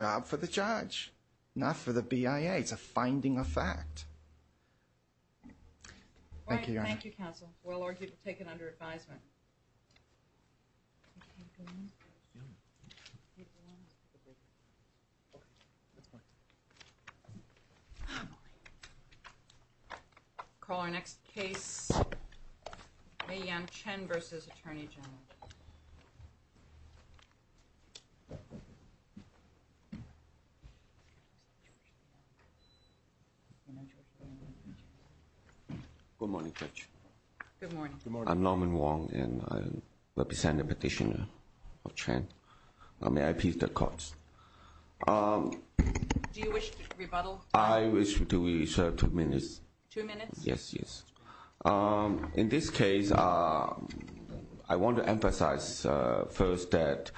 Not for the judge, not for the BIA. It's a finding of fact. Thank you, Your Honor. Thank you, counsel. We'll argue to take it under advisement. We'll call our next case, A. Yang Chen v. Attorney General. Good morning, Judge. Good morning. Good morning. I'm Norman Wong, and I represent the petitioner of Chen. I'm the IP of the courts. Do you wish to rebuttal? I wish to reserve two minutes. Two minutes? Yes, yes. In this case, I want to emphasize first that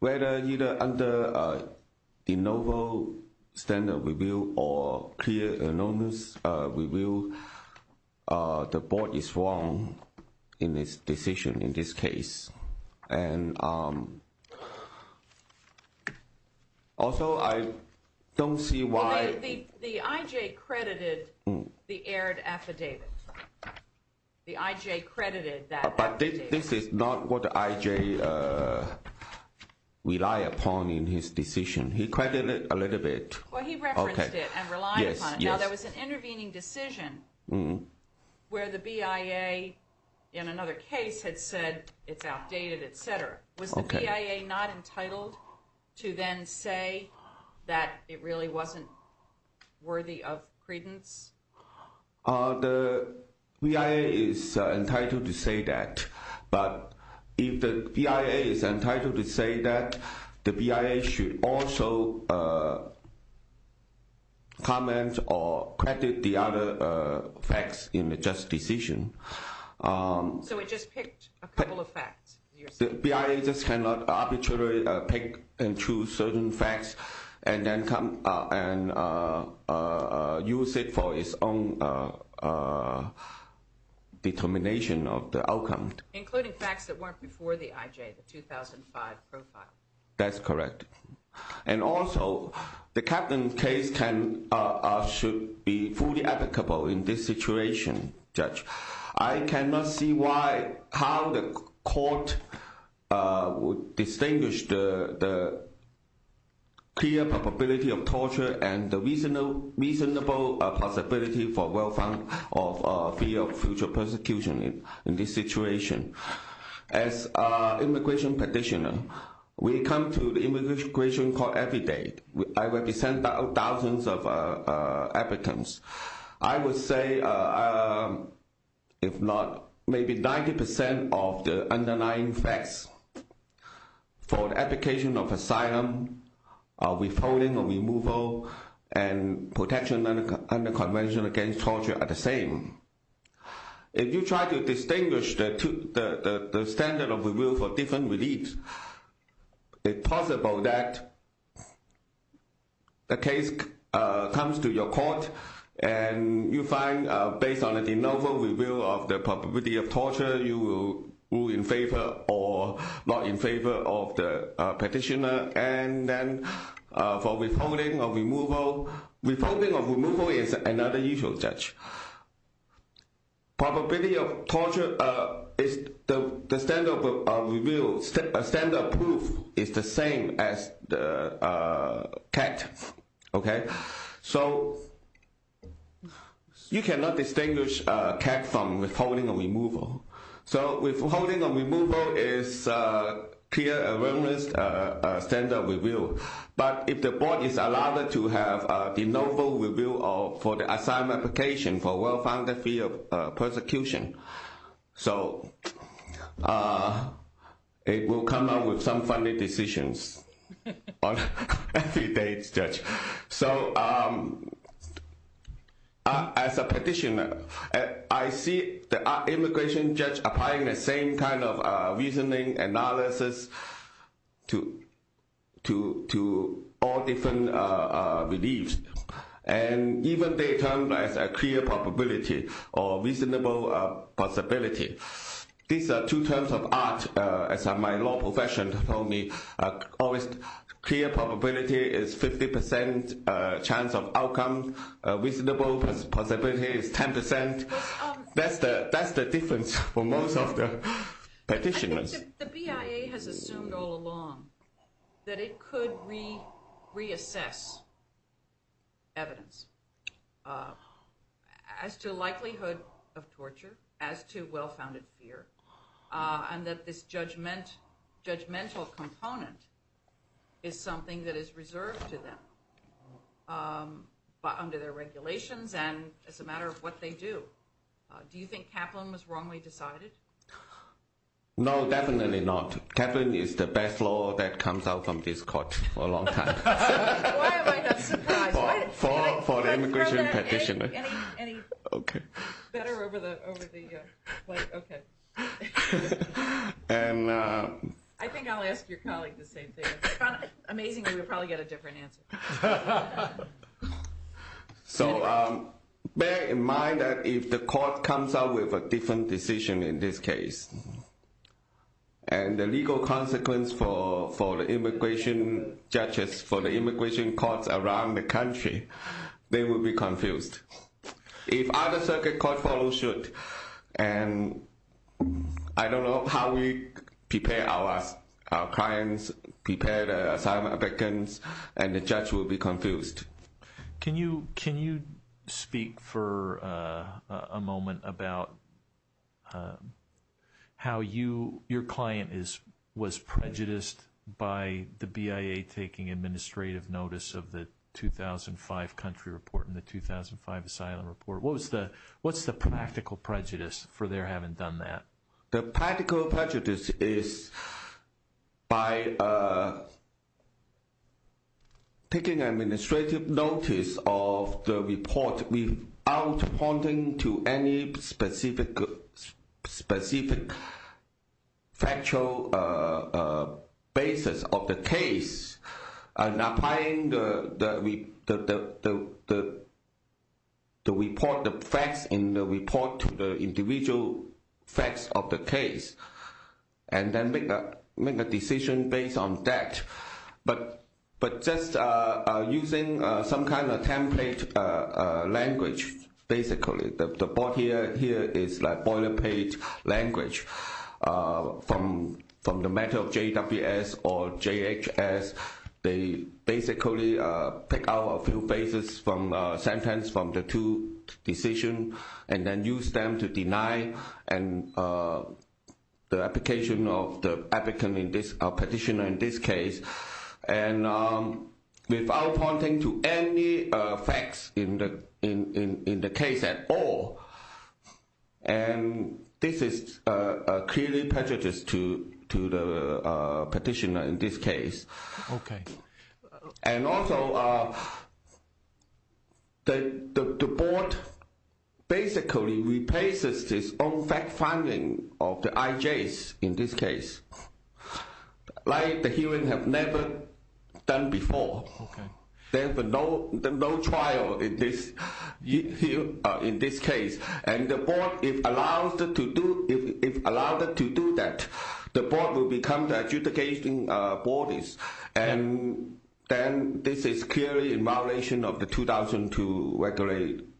whether either under the novel standard review or clear anonymous review, the board is wrong in this decision, in this case. And also, I don't see why... The I.J. credited the aired affidavit. The I.J. credited that affidavit. But this is not what the I.J. relied upon in his decision. He credited it a little bit. Well, he referenced it and relied upon it. Now, there was an intervening decision where the BIA, in another case, had said it's outdated, et cetera. Was the BIA not entitled to then say that it really wasn't worthy of credence? The BIA is entitled to say that. But if the BIA is entitled to say that, the BIA should also comment or credit the other facts in the just decision. So it just picked a couple of facts. The BIA just cannot arbitrarily pick and choose certain facts and use it for its own determination of the outcome. Including facts that weren't before the I.J., the 2005 profile. That's correct. And also, the Kaplan case should be fully applicable in this situation, Judge. I cannot see how the court would distinguish the clear probability of torture and the reasonable possibility for well-found fear of future persecution in this situation. As an immigration practitioner, we come to the immigration court every day. I represent thousands of applicants. I would say, if not, maybe 90% of the underlying facts for the application of asylum, withholding or removal, and protection under convention against torture are the same. If you try to distinguish the standard of review for different reliefs, it's possible that the case comes to your court and you find, based on a de novo review of the probability of torture, you will rule in favor or not in favor of the petitioner. For withholding or removal, withholding or removal is another usual judge. Probability of torture, the standard of proof is the same as the CAC. So, you cannot distinguish CAC from withholding or removal. Withholding or removal is a clear and well-known standard of review. But, if the board is allowed to have a de novo review for the asylum application for well-found fear of persecution, it will come up with some funny decisions on every day, Judge. So, as a petitioner, I see the immigration judge applying the same kind of reasoning analysis to all different reliefs. And even they termed as a clear probability or reasonable possibility. These are two terms of art, as my law profession told me. Clear probability is 50% chance of outcome. Reasonable possibility is 10%. That's the difference for most of the petitioners. The BIA has assumed all along that it could reassess evidence as to likelihood of torture, as to well-founded fear. And that this judgmental component is something that is reserved to them under their regulations and as a matter of what they do. Do you think Kaplan was wrongly decided? No, definitely not. Kaplan is the best law that comes out from this court for a long time. Why am I not surprised? For the immigration petitioner. Any better over the... Okay. I think I'll ask your colleague the same thing. Amazingly, we'll probably get a different answer. So, bear in mind that if the court comes out with a different decision in this case, and the legal consequence for the immigration judges, for the immigration courts around the country, they will be confused. If other circuit courts follow suit, and I don't know how we prepare our clients, prepare the asylum applicants, and the judge will be confused. Can you speak for a moment about how your client was prejudiced by the BIA taking administrative notice of the 2005 country report and the 2005 asylum report? What's the practical prejudice for their having done that? The practical prejudice is by taking administrative notice of the report without pointing to any specific factual basis of the case and applying the facts in the report to the individual facts of the case and then make a decision based on that. But just using some kind of template language, basically. The board here is like boilerplate language. From the matter of JWS or JHS, they basically pick out a few phases from the sentence from the two decisions and then use them to deny the application of the applicant or petitioner in this case without pointing to any facts in the case at all. This is clearly prejudiced to the petitioner in this case. Also, the board basically replaces its own fact-finding of the IJs in this case. Like the hearing have never done before. There's no trial in this case. And the board, if allowed to do that, the board will become the adjudicating bodies. And this is clearly in violation of the 2002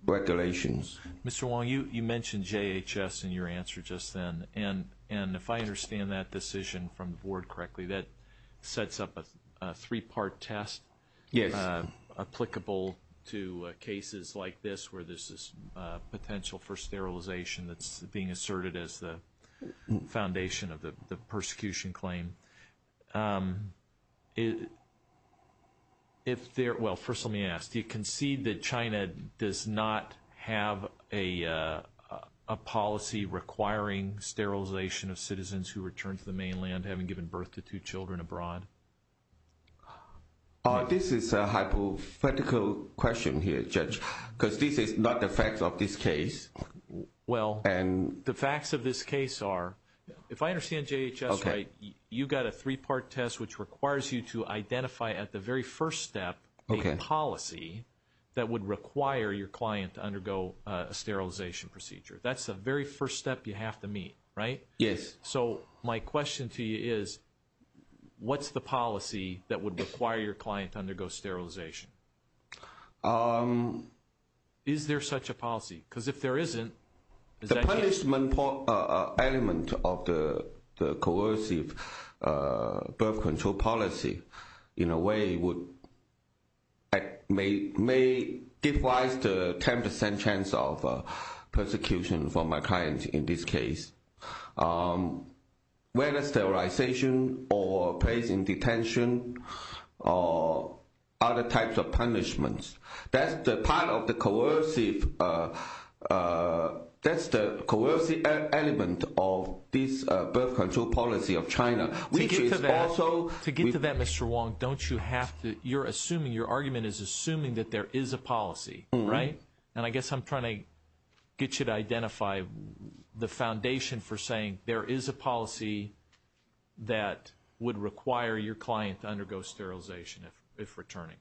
regulations. Mr. Wong, you mentioned JHS in your answer just then. And if I understand that decision from the board correctly, that sets up a three-part test. Yes. Applicable to cases like this where there's this potential for sterilization that's being asserted as the foundation of the persecution claim. First let me ask, do you concede that China does not have a policy requiring sterilization of citizens who return to the mainland having given birth to two children abroad? This is a hypothetical question here, Judge, because this is not the facts of this case. Well, the facts of this case are, if I understand JHS right, you've got a three-part test which requires you to identify at the very first step a policy that would require your client to undergo a sterilization procedure. That's the very first step you have to meet, right? Yes. So my question to you is, what's the policy that would require your client to undergo sterilization? Is there such a policy? Because if there isn't, is that the case? The punishment element of the coercive birth control policy, in a way, may give rise to a 10% chance of persecution for my client in this case. Whether sterilization or place in detention or other types of punishments, that's the part of the coercive element of this birth control policy of China. To get to that, Mr. Wong, you're assuming, your argument is assuming that there is a policy, right? And I guess I'm trying to get you to identify the foundation for saying there is a policy that would require your client to undergo sterilization if returning.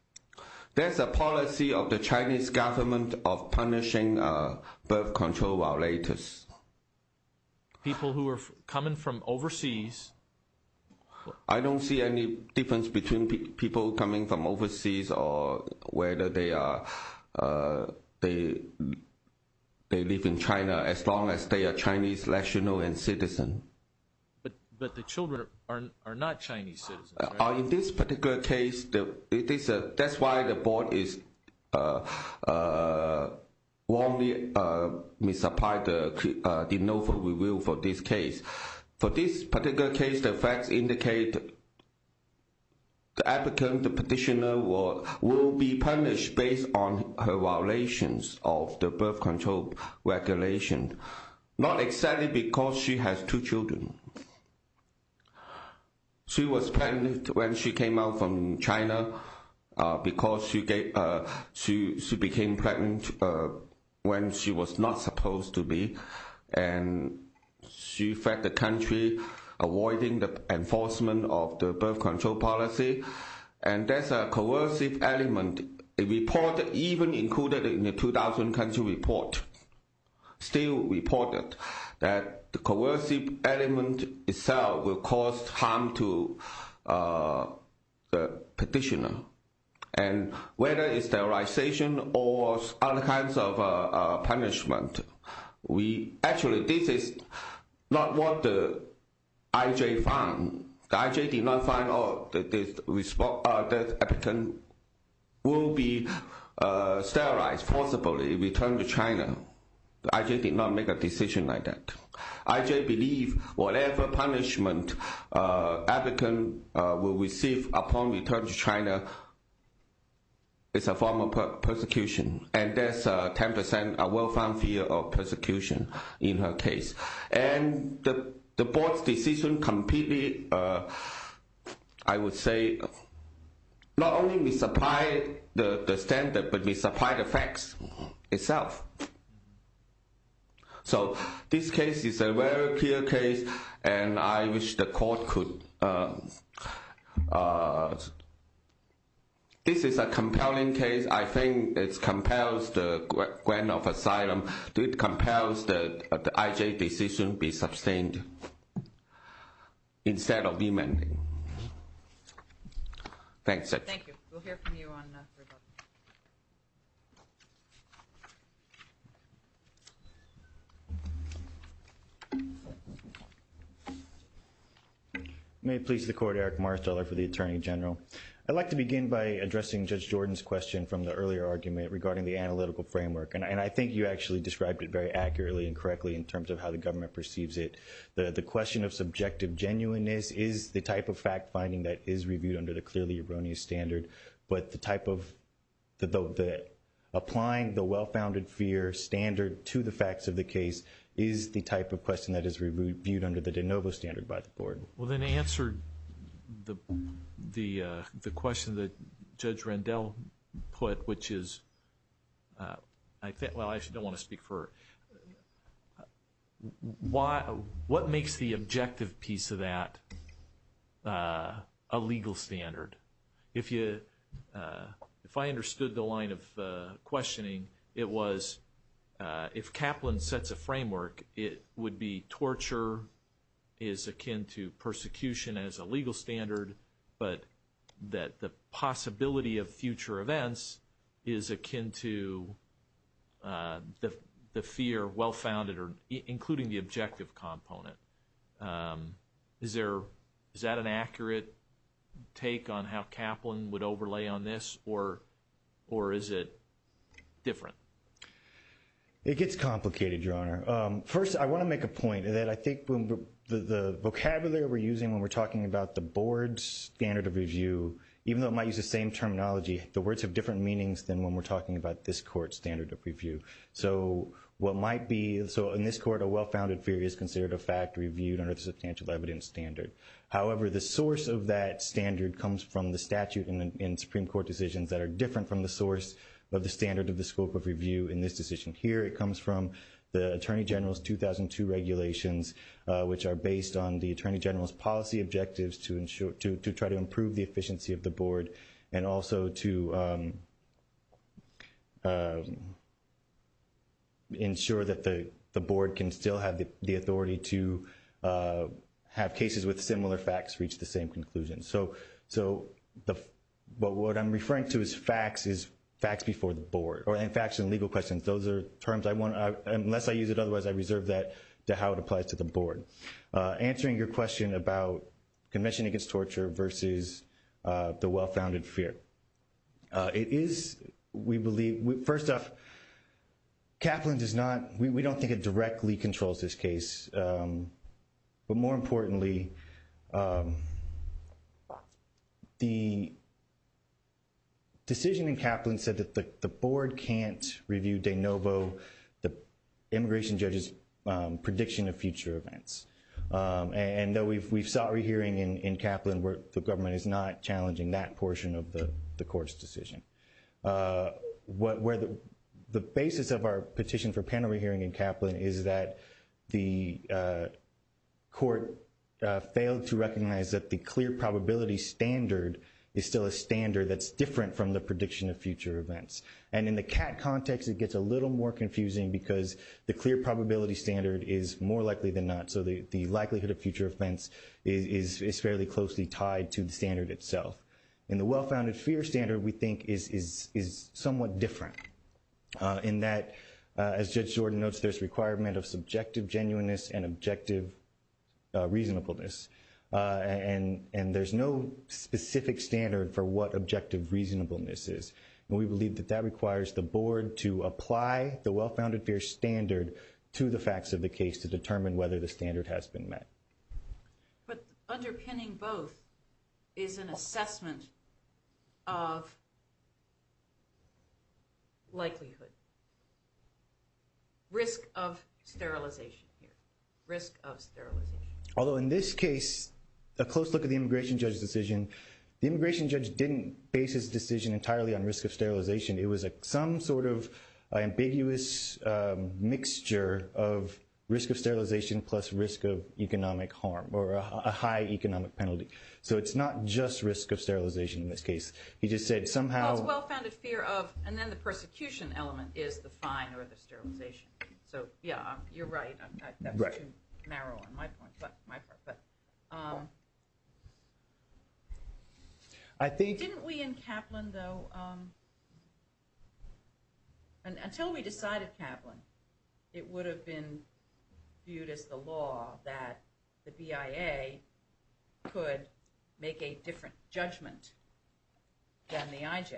There's a policy of the Chinese government of punishing birth control violators. People who are coming from overseas. I don't see any difference between people coming from overseas or whether they live in China as long as they are Chinese nationals and citizens. But the children are not Chinese citizens, right? In this particular case, that's why the board warmly supplied the NOFA review for this case. For this particular case, the facts indicate the applicant, the petitioner, will be punished based on her violations of the birth control regulation. Not exactly because she has two children. She was pregnant when she came out from China because she became pregnant when she was not supposed to be. And she fed the country, avoiding the enforcement of the birth control policy. And that's a coercive element. A report even included in the 2000 country report still reported that the coercive element itself will cause harm to the petitioner. And whether it's sterilization or other kinds of punishment, actually this is not what the IJ found. The IJ did not find out that the applicant will be sterilized, forcibly returned to China. The IJ did not make a decision like that. The IJ believed whatever punishment the applicant will receive upon return to China is a form of persecution. And that's a 10% well-found fear of persecution in her case. And the board's decision completely, I would say, not only misapplied the standard, but misapplied the facts itself. So this case is a very clear case, and I wish the court could... This is a compelling case. I think it compels the grant of asylum. It compels the IJ decision to be sustained instead of remanded. Thanks. Thank you. We'll hear from you on... May it please the court, Eric Marsteller for the Attorney General. I'd like to begin by addressing Judge Jordan's question from the earlier argument regarding the analytical framework. And I think you actually described it very accurately and correctly in terms of how the government perceives it. The question of subjective genuineness is the type of fact-finding that is reviewed under the clearly erroneous standard. But the type of... Applying the well-founded fear standard to the facts of the case is the type of question that is reviewed under the de novo standard by the board. Well, then to answer the question that Judge Rendell put, which is... Well, I actually don't want to speak for... What makes the objective piece of that a legal standard? If I understood the line of questioning, it was... If Kaplan sets a framework, it would be torture is akin to persecution as a legal standard, but that the possibility of future events is akin to the fear well-founded, including the objective component. Is that an accurate take on how Kaplan would overlay on this, or is it different? It gets complicated, Your Honor. First, I want to make a point that I think the vocabulary we're using when we're talking about the board's standard of review, even though it might use the same terminology, the words have different meanings than when we're talking about this court's standard of review. So what might be... So in this court, a well-founded fear is considered a fact reviewed under the substantial evidence standard. However, the source of that standard comes from the statute in Supreme Court decisions that are different from the source of the standard of the scope of review in this decision. Here it comes from the Attorney General's 2002 regulations, which are based on the Attorney General's policy objectives to try to improve the efficiency of the board and also to ensure that the board can still have the authority to have cases with similar facts reach the same conclusion. So what I'm referring to as facts is facts before the board, or facts and legal questions. Those are terms I want to...unless I use it otherwise, I reserve that to how it applies to the board. So answering your question about Convention Against Torture versus the well-founded fear. It is, we believe...first off, Kaplan does not...we don't think it directly controls this case. But more importantly, the decision in Kaplan said that the board can't review de novo the immigration judge's prediction of future events. And though we've sought re-hearing in Kaplan where the government is not challenging that portion of the court's decision. The basis of our petition for panel re-hearing in Kaplan is that the court failed to recognize that the clear probability standard is still a standard that's different from the prediction of future events. And in the CAT context, it gets a little more confusing because the clear probability standard is more likely than not. So the likelihood of future events is fairly closely tied to the standard itself. And the well-founded fear standard, we think, is somewhat different in that, as Judge Jordan notes, there's a requirement of subjective genuineness and objective reasonableness. And there's no specific standard for what objective reasonableness is. And we believe that that requires the board to apply the well-founded fear standard to the facts of the case to determine whether the standard has been met. But underpinning both is an assessment of likelihood, risk of sterilization here, risk of sterilization. Although in this case, a close look at the immigration judge's decision, the immigration judge didn't base his decision entirely on risk of sterilization. It was some sort of ambiguous mixture of risk of sterilization plus risk of economic harm or a high economic penalty. So it's not just risk of sterilization in this case. He just said somehow— Well, it's well-founded fear of, and then the persecution element is the fine or the sterilization. So, yeah, you're right. That's too narrow on my part. Didn't we in Kaplan, though—until we decided Kaplan, it would have been viewed as the law that the BIA could make a different judgment than the IJ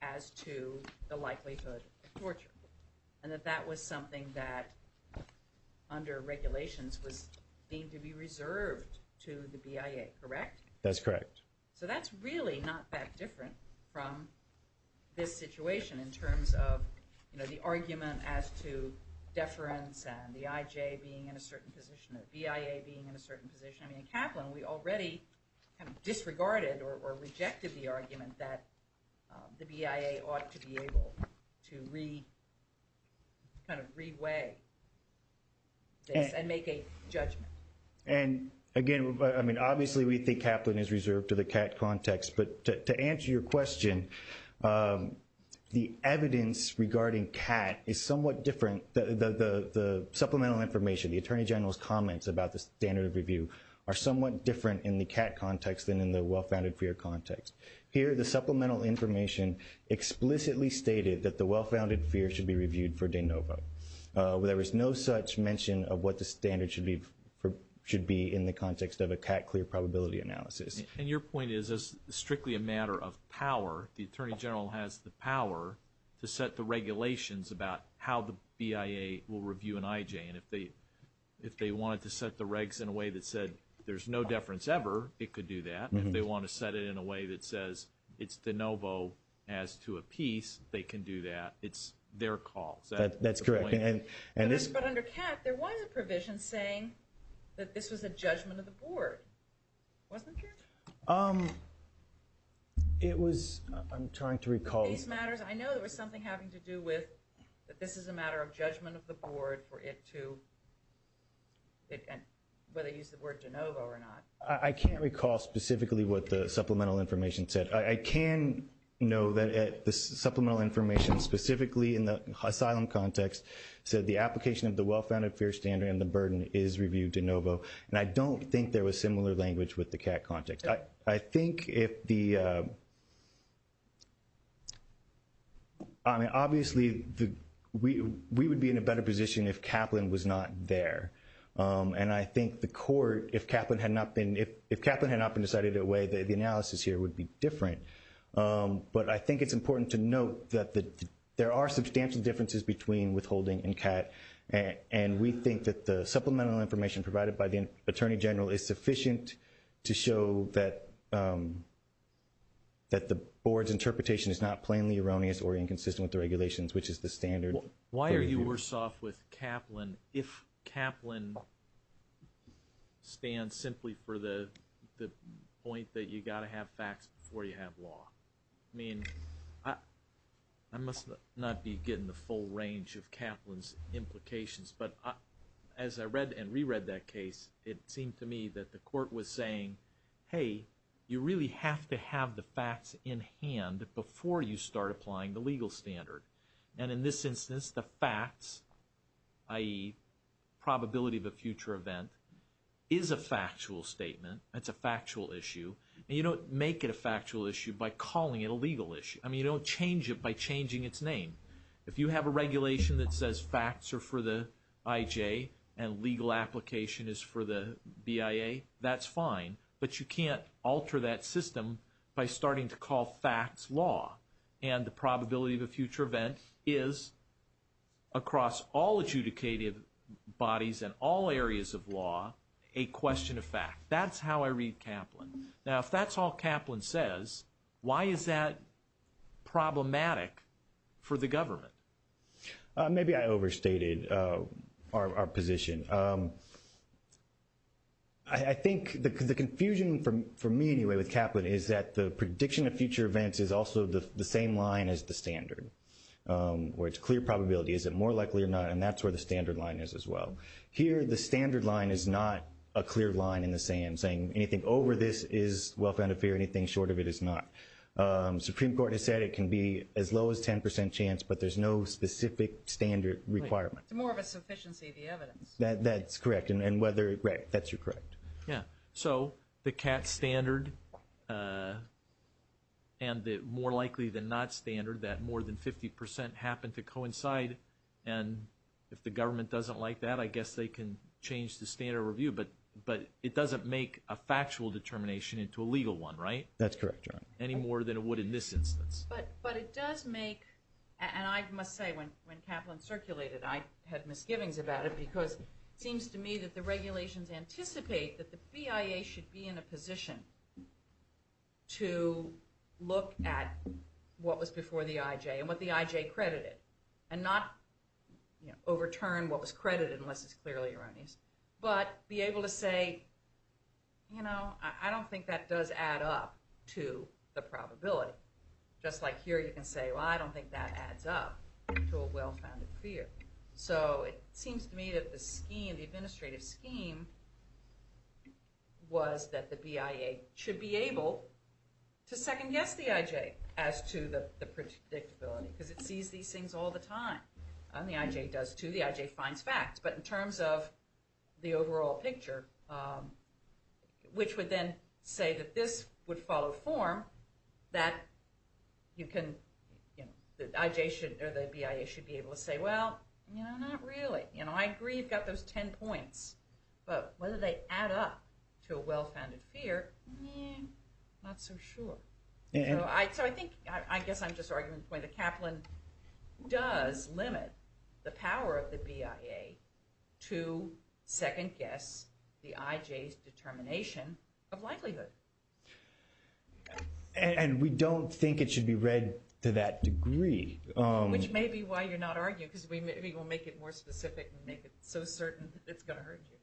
as to the likelihood of torture. And that that was something that under regulations was deemed to be reserved to the BIA, correct? That's correct. So that's really not that different from this situation in terms of, you know, the argument as to deference and the IJ being in a certain position and the BIA being in a certain position. I mean, in Kaplan, we already disregarded or rejected the argument that the BIA ought to be able to kind of re-weigh this and make a judgment. And, again, I mean, obviously we think Kaplan is reserved to the CAT context. But to answer your question, the evidence regarding CAT is somewhat different. The supplemental information, the Attorney General's comments about the standard of review, are somewhat different in the CAT context than in the well-founded fear context. Here, the supplemental information explicitly stated that the well-founded fear should be reviewed for de novo. There was no such mention of what the standard should be in the context of a CAT clear probability analysis. And your point is, as strictly a matter of power, the Attorney General has the power to set the regulations about how the BIA will review an IJ. And if they wanted to set the regs in a way that said there's no deference ever, it could do that. If they want to set it in a way that says it's de novo as to a piece, they can do that. It's their call. That's correct. But under CAT, there was a provision saying that this was a judgment of the Board. Wasn't there? It was, I'm trying to recall. I know there was something having to do with that this is a matter of judgment of the Board for it to, whether they use the word de novo or not. I can't recall specifically what the supplemental information said. I can know that the supplemental information specifically in the asylum context said the application of the well-founded fear standard and the burden is reviewed de novo. And I don't think there was similar language with the CAT context. I think if the, I mean, obviously, we would be in a better position if Kaplan was not there. And I think the court, if Kaplan had not been decided in a way, the analysis here would be different. But I think it's important to note that there are substantial differences between withholding and CAT. And we think that the supplemental information provided by the Attorney General is sufficient to show that the Board's interpretation is not plainly erroneous or inconsistent with the regulations, which is the standard. Why are you worse off with Kaplan if Kaplan stands simply for the point that you've got to have facts before you have law? I mean, I must not be getting the full range of Kaplan's implications. But as I read and reread that case, it seemed to me that the court was saying, hey, you really have to have the facts in hand before you start applying the legal standard. And in this instance, the facts, i.e., probability of a future event, is a factual statement. It's a factual issue. And you don't make it a factual issue by calling it a legal issue. I mean, you don't change it by changing its name. If you have a regulation that says facts are for the IJ and legal application is for the BIA, that's fine. But you can't alter that system by starting to call facts law. And the probability of a future event is, across all adjudicated bodies and all areas of law, a question of fact. That's how I read Kaplan. Now, if that's all Kaplan says, why is that problematic for the government? Maybe I overstated our position. I think the confusion, for me anyway, with Kaplan is that the prediction of future events is also the same line as the standard, where it's clear probability, is it more likely or not, and that's where the standard line is as well. Here, the standard line is not a clear line in the sand, saying anything over this is well-founded fear, anything short of it is not. Supreme Court has said it can be as low as 10% chance, but there's no specific standard requirement. It's more of a sufficiency of the evidence. That's correct. And whether, right, that's correct. Yeah. So the CAT standard and the more likely than not standard, that more than 50% happen to coincide. And if the government doesn't like that, I guess they can change the standard review, but it doesn't make a factual determination into a legal one, right? That's correct, Your Honor. Any more than it would in this instance. But it does make, and I must say when Kaplan circulated, I had misgivings about it because it seems to me that the regulations anticipate that the BIA should be in a position to look at what was before the IJ and what the IJ credited, and not overturn what was credited unless it's clearly erroneous, but be able to say, you know, I don't think that does add up to the probability. Just like here you can say, well, I don't think that adds up to a well-founded fear. So it seems to me that the scheme, the administrative scheme, was that the BIA should be able to second-guess the IJ as to the predictability because it sees these things all the time. And the IJ does too. The IJ finds facts. But in terms of the overall picture, which would then say that this would follow form, that you can, you know, not really. You know, I agree you've got those 10 points. But whether they add up to a well-founded fear, not so sure. So I think, I guess I'm just arguing the point that Kaplan does limit the power of the BIA to second-guess the IJ's determination of likelihood. And we don't think it should be read to that degree. Which may be why you're not arguing because we will make it more specific and make it so certain it's going to hurt you.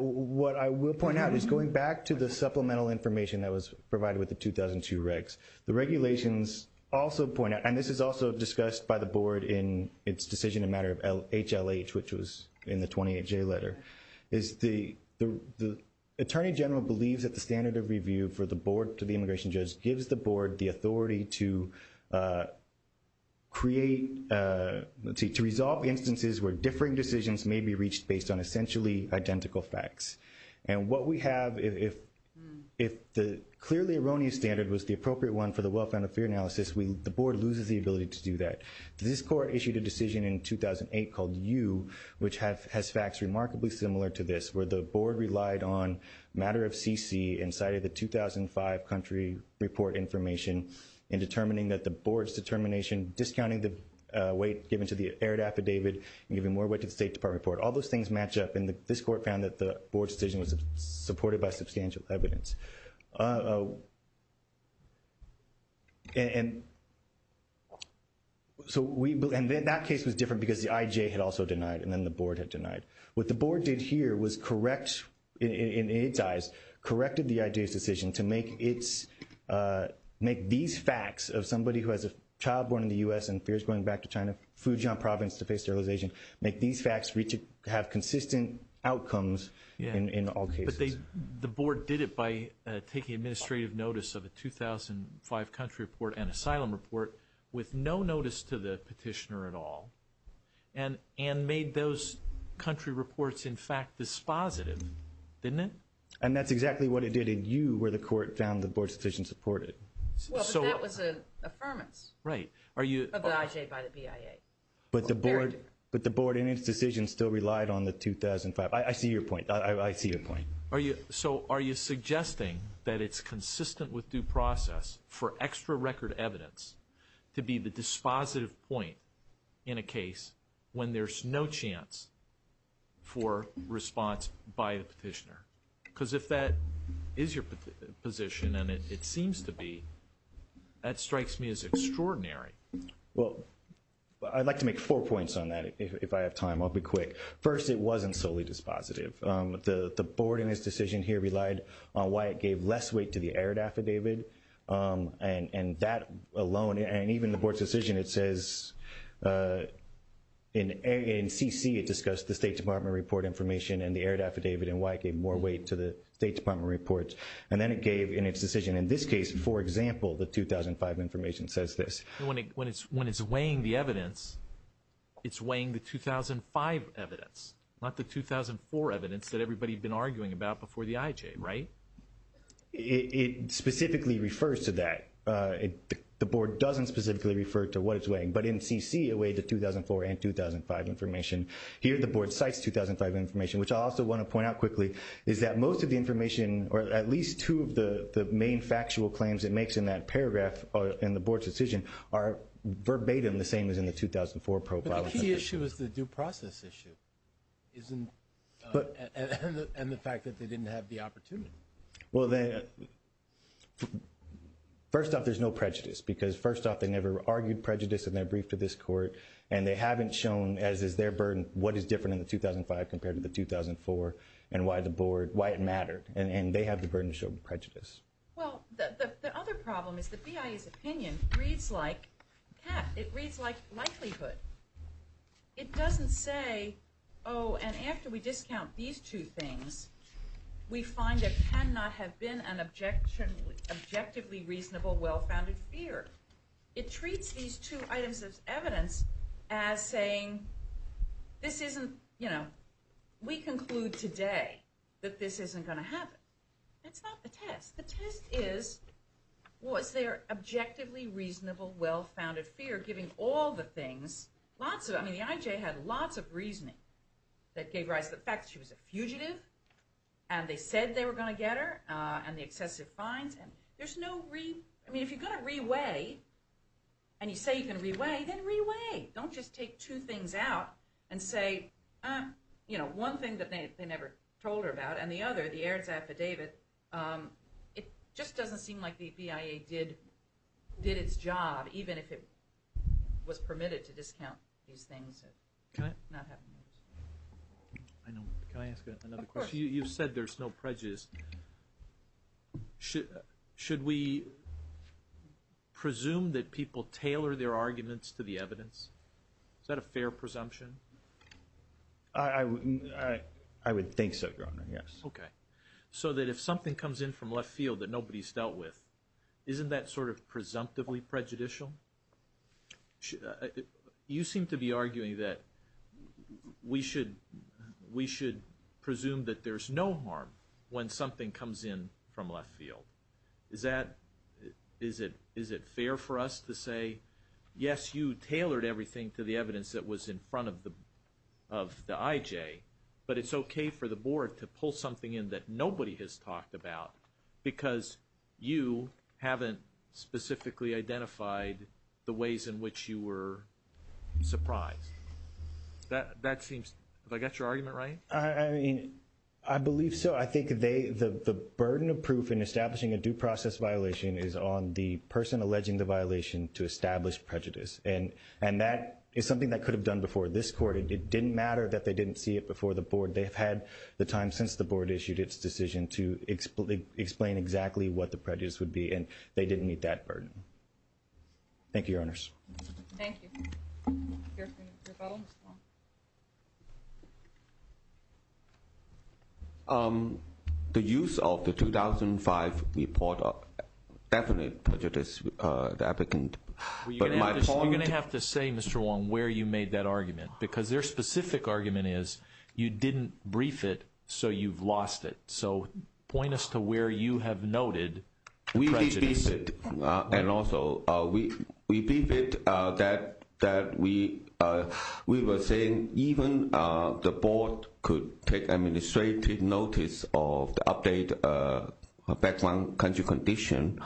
What I will point out is going back to the supplemental information that was provided with the 2002 regs. The regulations also point out, and this is also discussed by the board in its decision in matter of HLH, which was in the 28J letter, is the attorney general believes that the standard of review for the board to the immigration judge gives the board the authority to create, to resolve instances where differing decisions may be reached based on essentially identical facts. And what we have, if the clearly erroneous standard was the appropriate one for the well-founded fear analysis, the board loses the ability to do that. This court issued a decision in 2008 called U, which has facts remarkably similar to this, where the board relied on matter of CC and cited the 2005 country report information in determining that the board's determination, discounting the weight given to the aired affidavit, and giving more weight to the State Department report. All those things match up, and this court found that the board's decision was supported by substantial evidence. And that case was different because the IJ had also denied, and then the board had denied. What the board did here was correct, in its eyes, corrected the IJ's decision to make these facts of somebody who has a child born in the U.S. and fears going back to China, Fujian province to face sterilization, make these facts have consistent outcomes in all cases. The board did it by taking administrative notice of a 2005 country report and asylum report with no notice to the petitioner at all, and made those country reports, in fact, dispositive, didn't it? And that's exactly what it did in U, where the court found the board's decision supported it. Well, but that was an affirmance. Right. Of the IJ by the BIA. But the board in its decision still relied on the 2005. I see your point. I see your point. So are you suggesting that it's consistent with due process for extra record evidence to be the dispositive point in a case when there's no chance for response by the petitioner? Because if that is your position, and it seems to be, that strikes me as extraordinary. Well, I'd like to make four points on that, if I have time. I'll be quick. First, it wasn't solely dispositive. The board in its decision here relied on why it gave less weight to the aired affidavit. And that alone, and even the board's decision, it says in CC, it discussed the State Department report information and the aired affidavit and why it gave more weight to the State Department report. And then it gave in its decision in this case, for example, the 2005 information says this. When it's weighing the evidence, it's weighing the 2005 evidence, not the 2004 evidence that everybody had been arguing about before the IHA, right? It specifically refers to that. The board doesn't specifically refer to what it's weighing. But in CC, it weighed the 2004 and 2005 information. Here, the board cites 2005 information, which I also want to point out quickly, is that most of the information, or at least two of the main factual claims it makes in that paragraph in the board's decision, are verbatim the same as in the 2004 profile. But the key issue is the due process issue, isn't it? And the fact that they didn't have the opportunity. Well, first off, there's no prejudice. Because first off, they never argued prejudice in their brief to this court. And they haven't shown, as is their burden, what is different in the 2005 compared to the 2004 and why it mattered. And they have the burden to show prejudice. Well, the other problem is the BIA's opinion reads like likelihood. It doesn't say, oh, and after we discount these two things, we find there cannot have been an objectively reasonable well-founded fear. It treats these two items of evidence as saying, we conclude today that this isn't going to happen. That's not the test. The test was their objectively reasonable well-founded fear, giving all the things. The IJ had lots of reasoning that gave rise to the fact that she was a fugitive. And they said they were going to get her and the excessive fines. I mean, if you're going to re-weigh, and you say you're going to re-weigh, then re-weigh. Don't just take two things out and say, one thing that they never told her about and the other, the Aaron's affidavit. It just doesn't seem like the BIA did its job, even if it was permitted to discount these things. Can I ask another question? Of course. You've said there's no prejudice. Should we presume that people tailor their arguments to the evidence? Is that a fair presumption? I would think so, Your Honor, yes. Okay. So that if something comes in from left field that nobody's dealt with, isn't that sort of presumptively prejudicial? You seem to be arguing that we should presume that there's no harm when something comes in from left field. Is it fair for us to say, yes, you tailored everything to the evidence that was in front of the IJ, but it's okay for the Board to pull something in that nobody has talked about because you haven't specifically identified the ways in which you were surprised? That seems, have I got your argument right? I mean, I believe so. I think the burden of proof in establishing a due process violation is on the person alleging the violation to establish prejudice. And that is something that could have done before this Court. It didn't matter that they didn't see it before the Board. They've had the time since the Board issued its decision to explain exactly what the prejudice would be, and they didn't meet that burden. Thank you, Your Honors. Thank you. Your fellow, Mr. Wong. The use of the 2005 report definitely prejudiced the applicant. You're going to have to say, Mr. Wong, where you made that argument, because their specific argument is you didn't brief it, so you've lost it. So point us to where you have noted prejudice. We did brief it. And also, we briefed it that we were saying even the Board could take administrative notice of the update background country condition.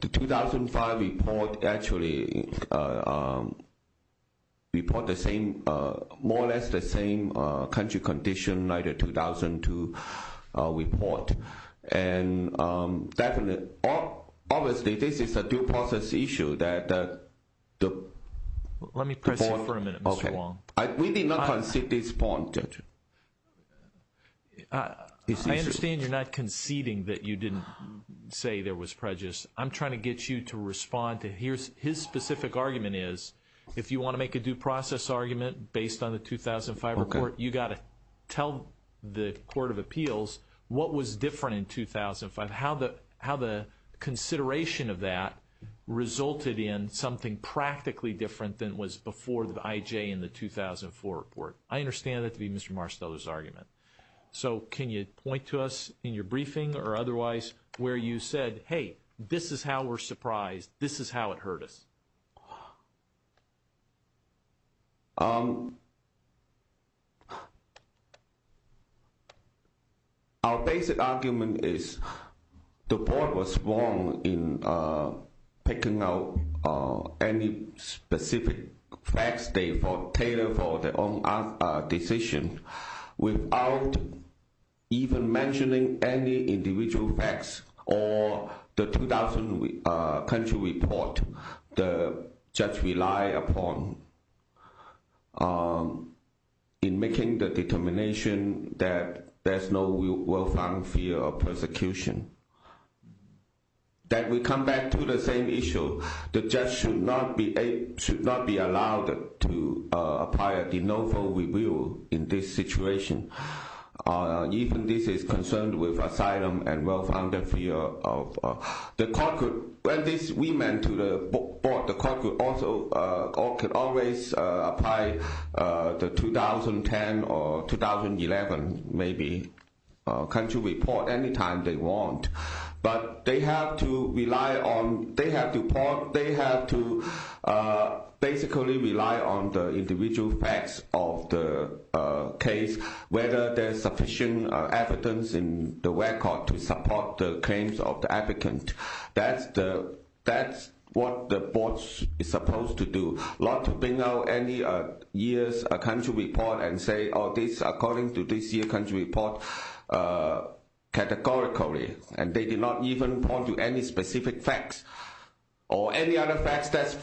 The 2005 report actually report more or less the same country condition like the 2002 report. And obviously, this is a due process issue that the- Let me press you for a minute, Mr. Wong. We did not concede this point, Judge. I understand you're not conceding that you didn't say there was prejudice. I'm trying to get you to respond to his specific argument is if you want to make a due process argument based on the 2005 report, you've got to tell the Court of Appeals what was different in 2005, how the consideration of that resulted in something practically different than was before the IJ in the 2004 report. I understand that to be Mr. Marsteller's argument. So can you point to us in your briefing or otherwise where you said, hey, this is how we're surprised. This is how it hurt us. Our basic argument is the Board was wrong in picking out any specific facts. They failed for their own decision without even mentioning any individual facts or the 2000 country report. The judge relied upon in making the determination that there's no well-found fear of persecution. That we come back to the same issue, the judge should not be allowed to apply a de novo review in this situation. Even this is concerned with asylum and well-founded fear. The Court could always apply the 2010 or 2011 country report any time they want. But they have to basically rely on the individual facts of the case, whether there's sufficient evidence in the record to support the claims of the advocate. That's what the Board is supposed to do, not to bring out any year's country report and say, oh, this according to this year's country report categorically. And they did not even point to any specific facts or any other facts.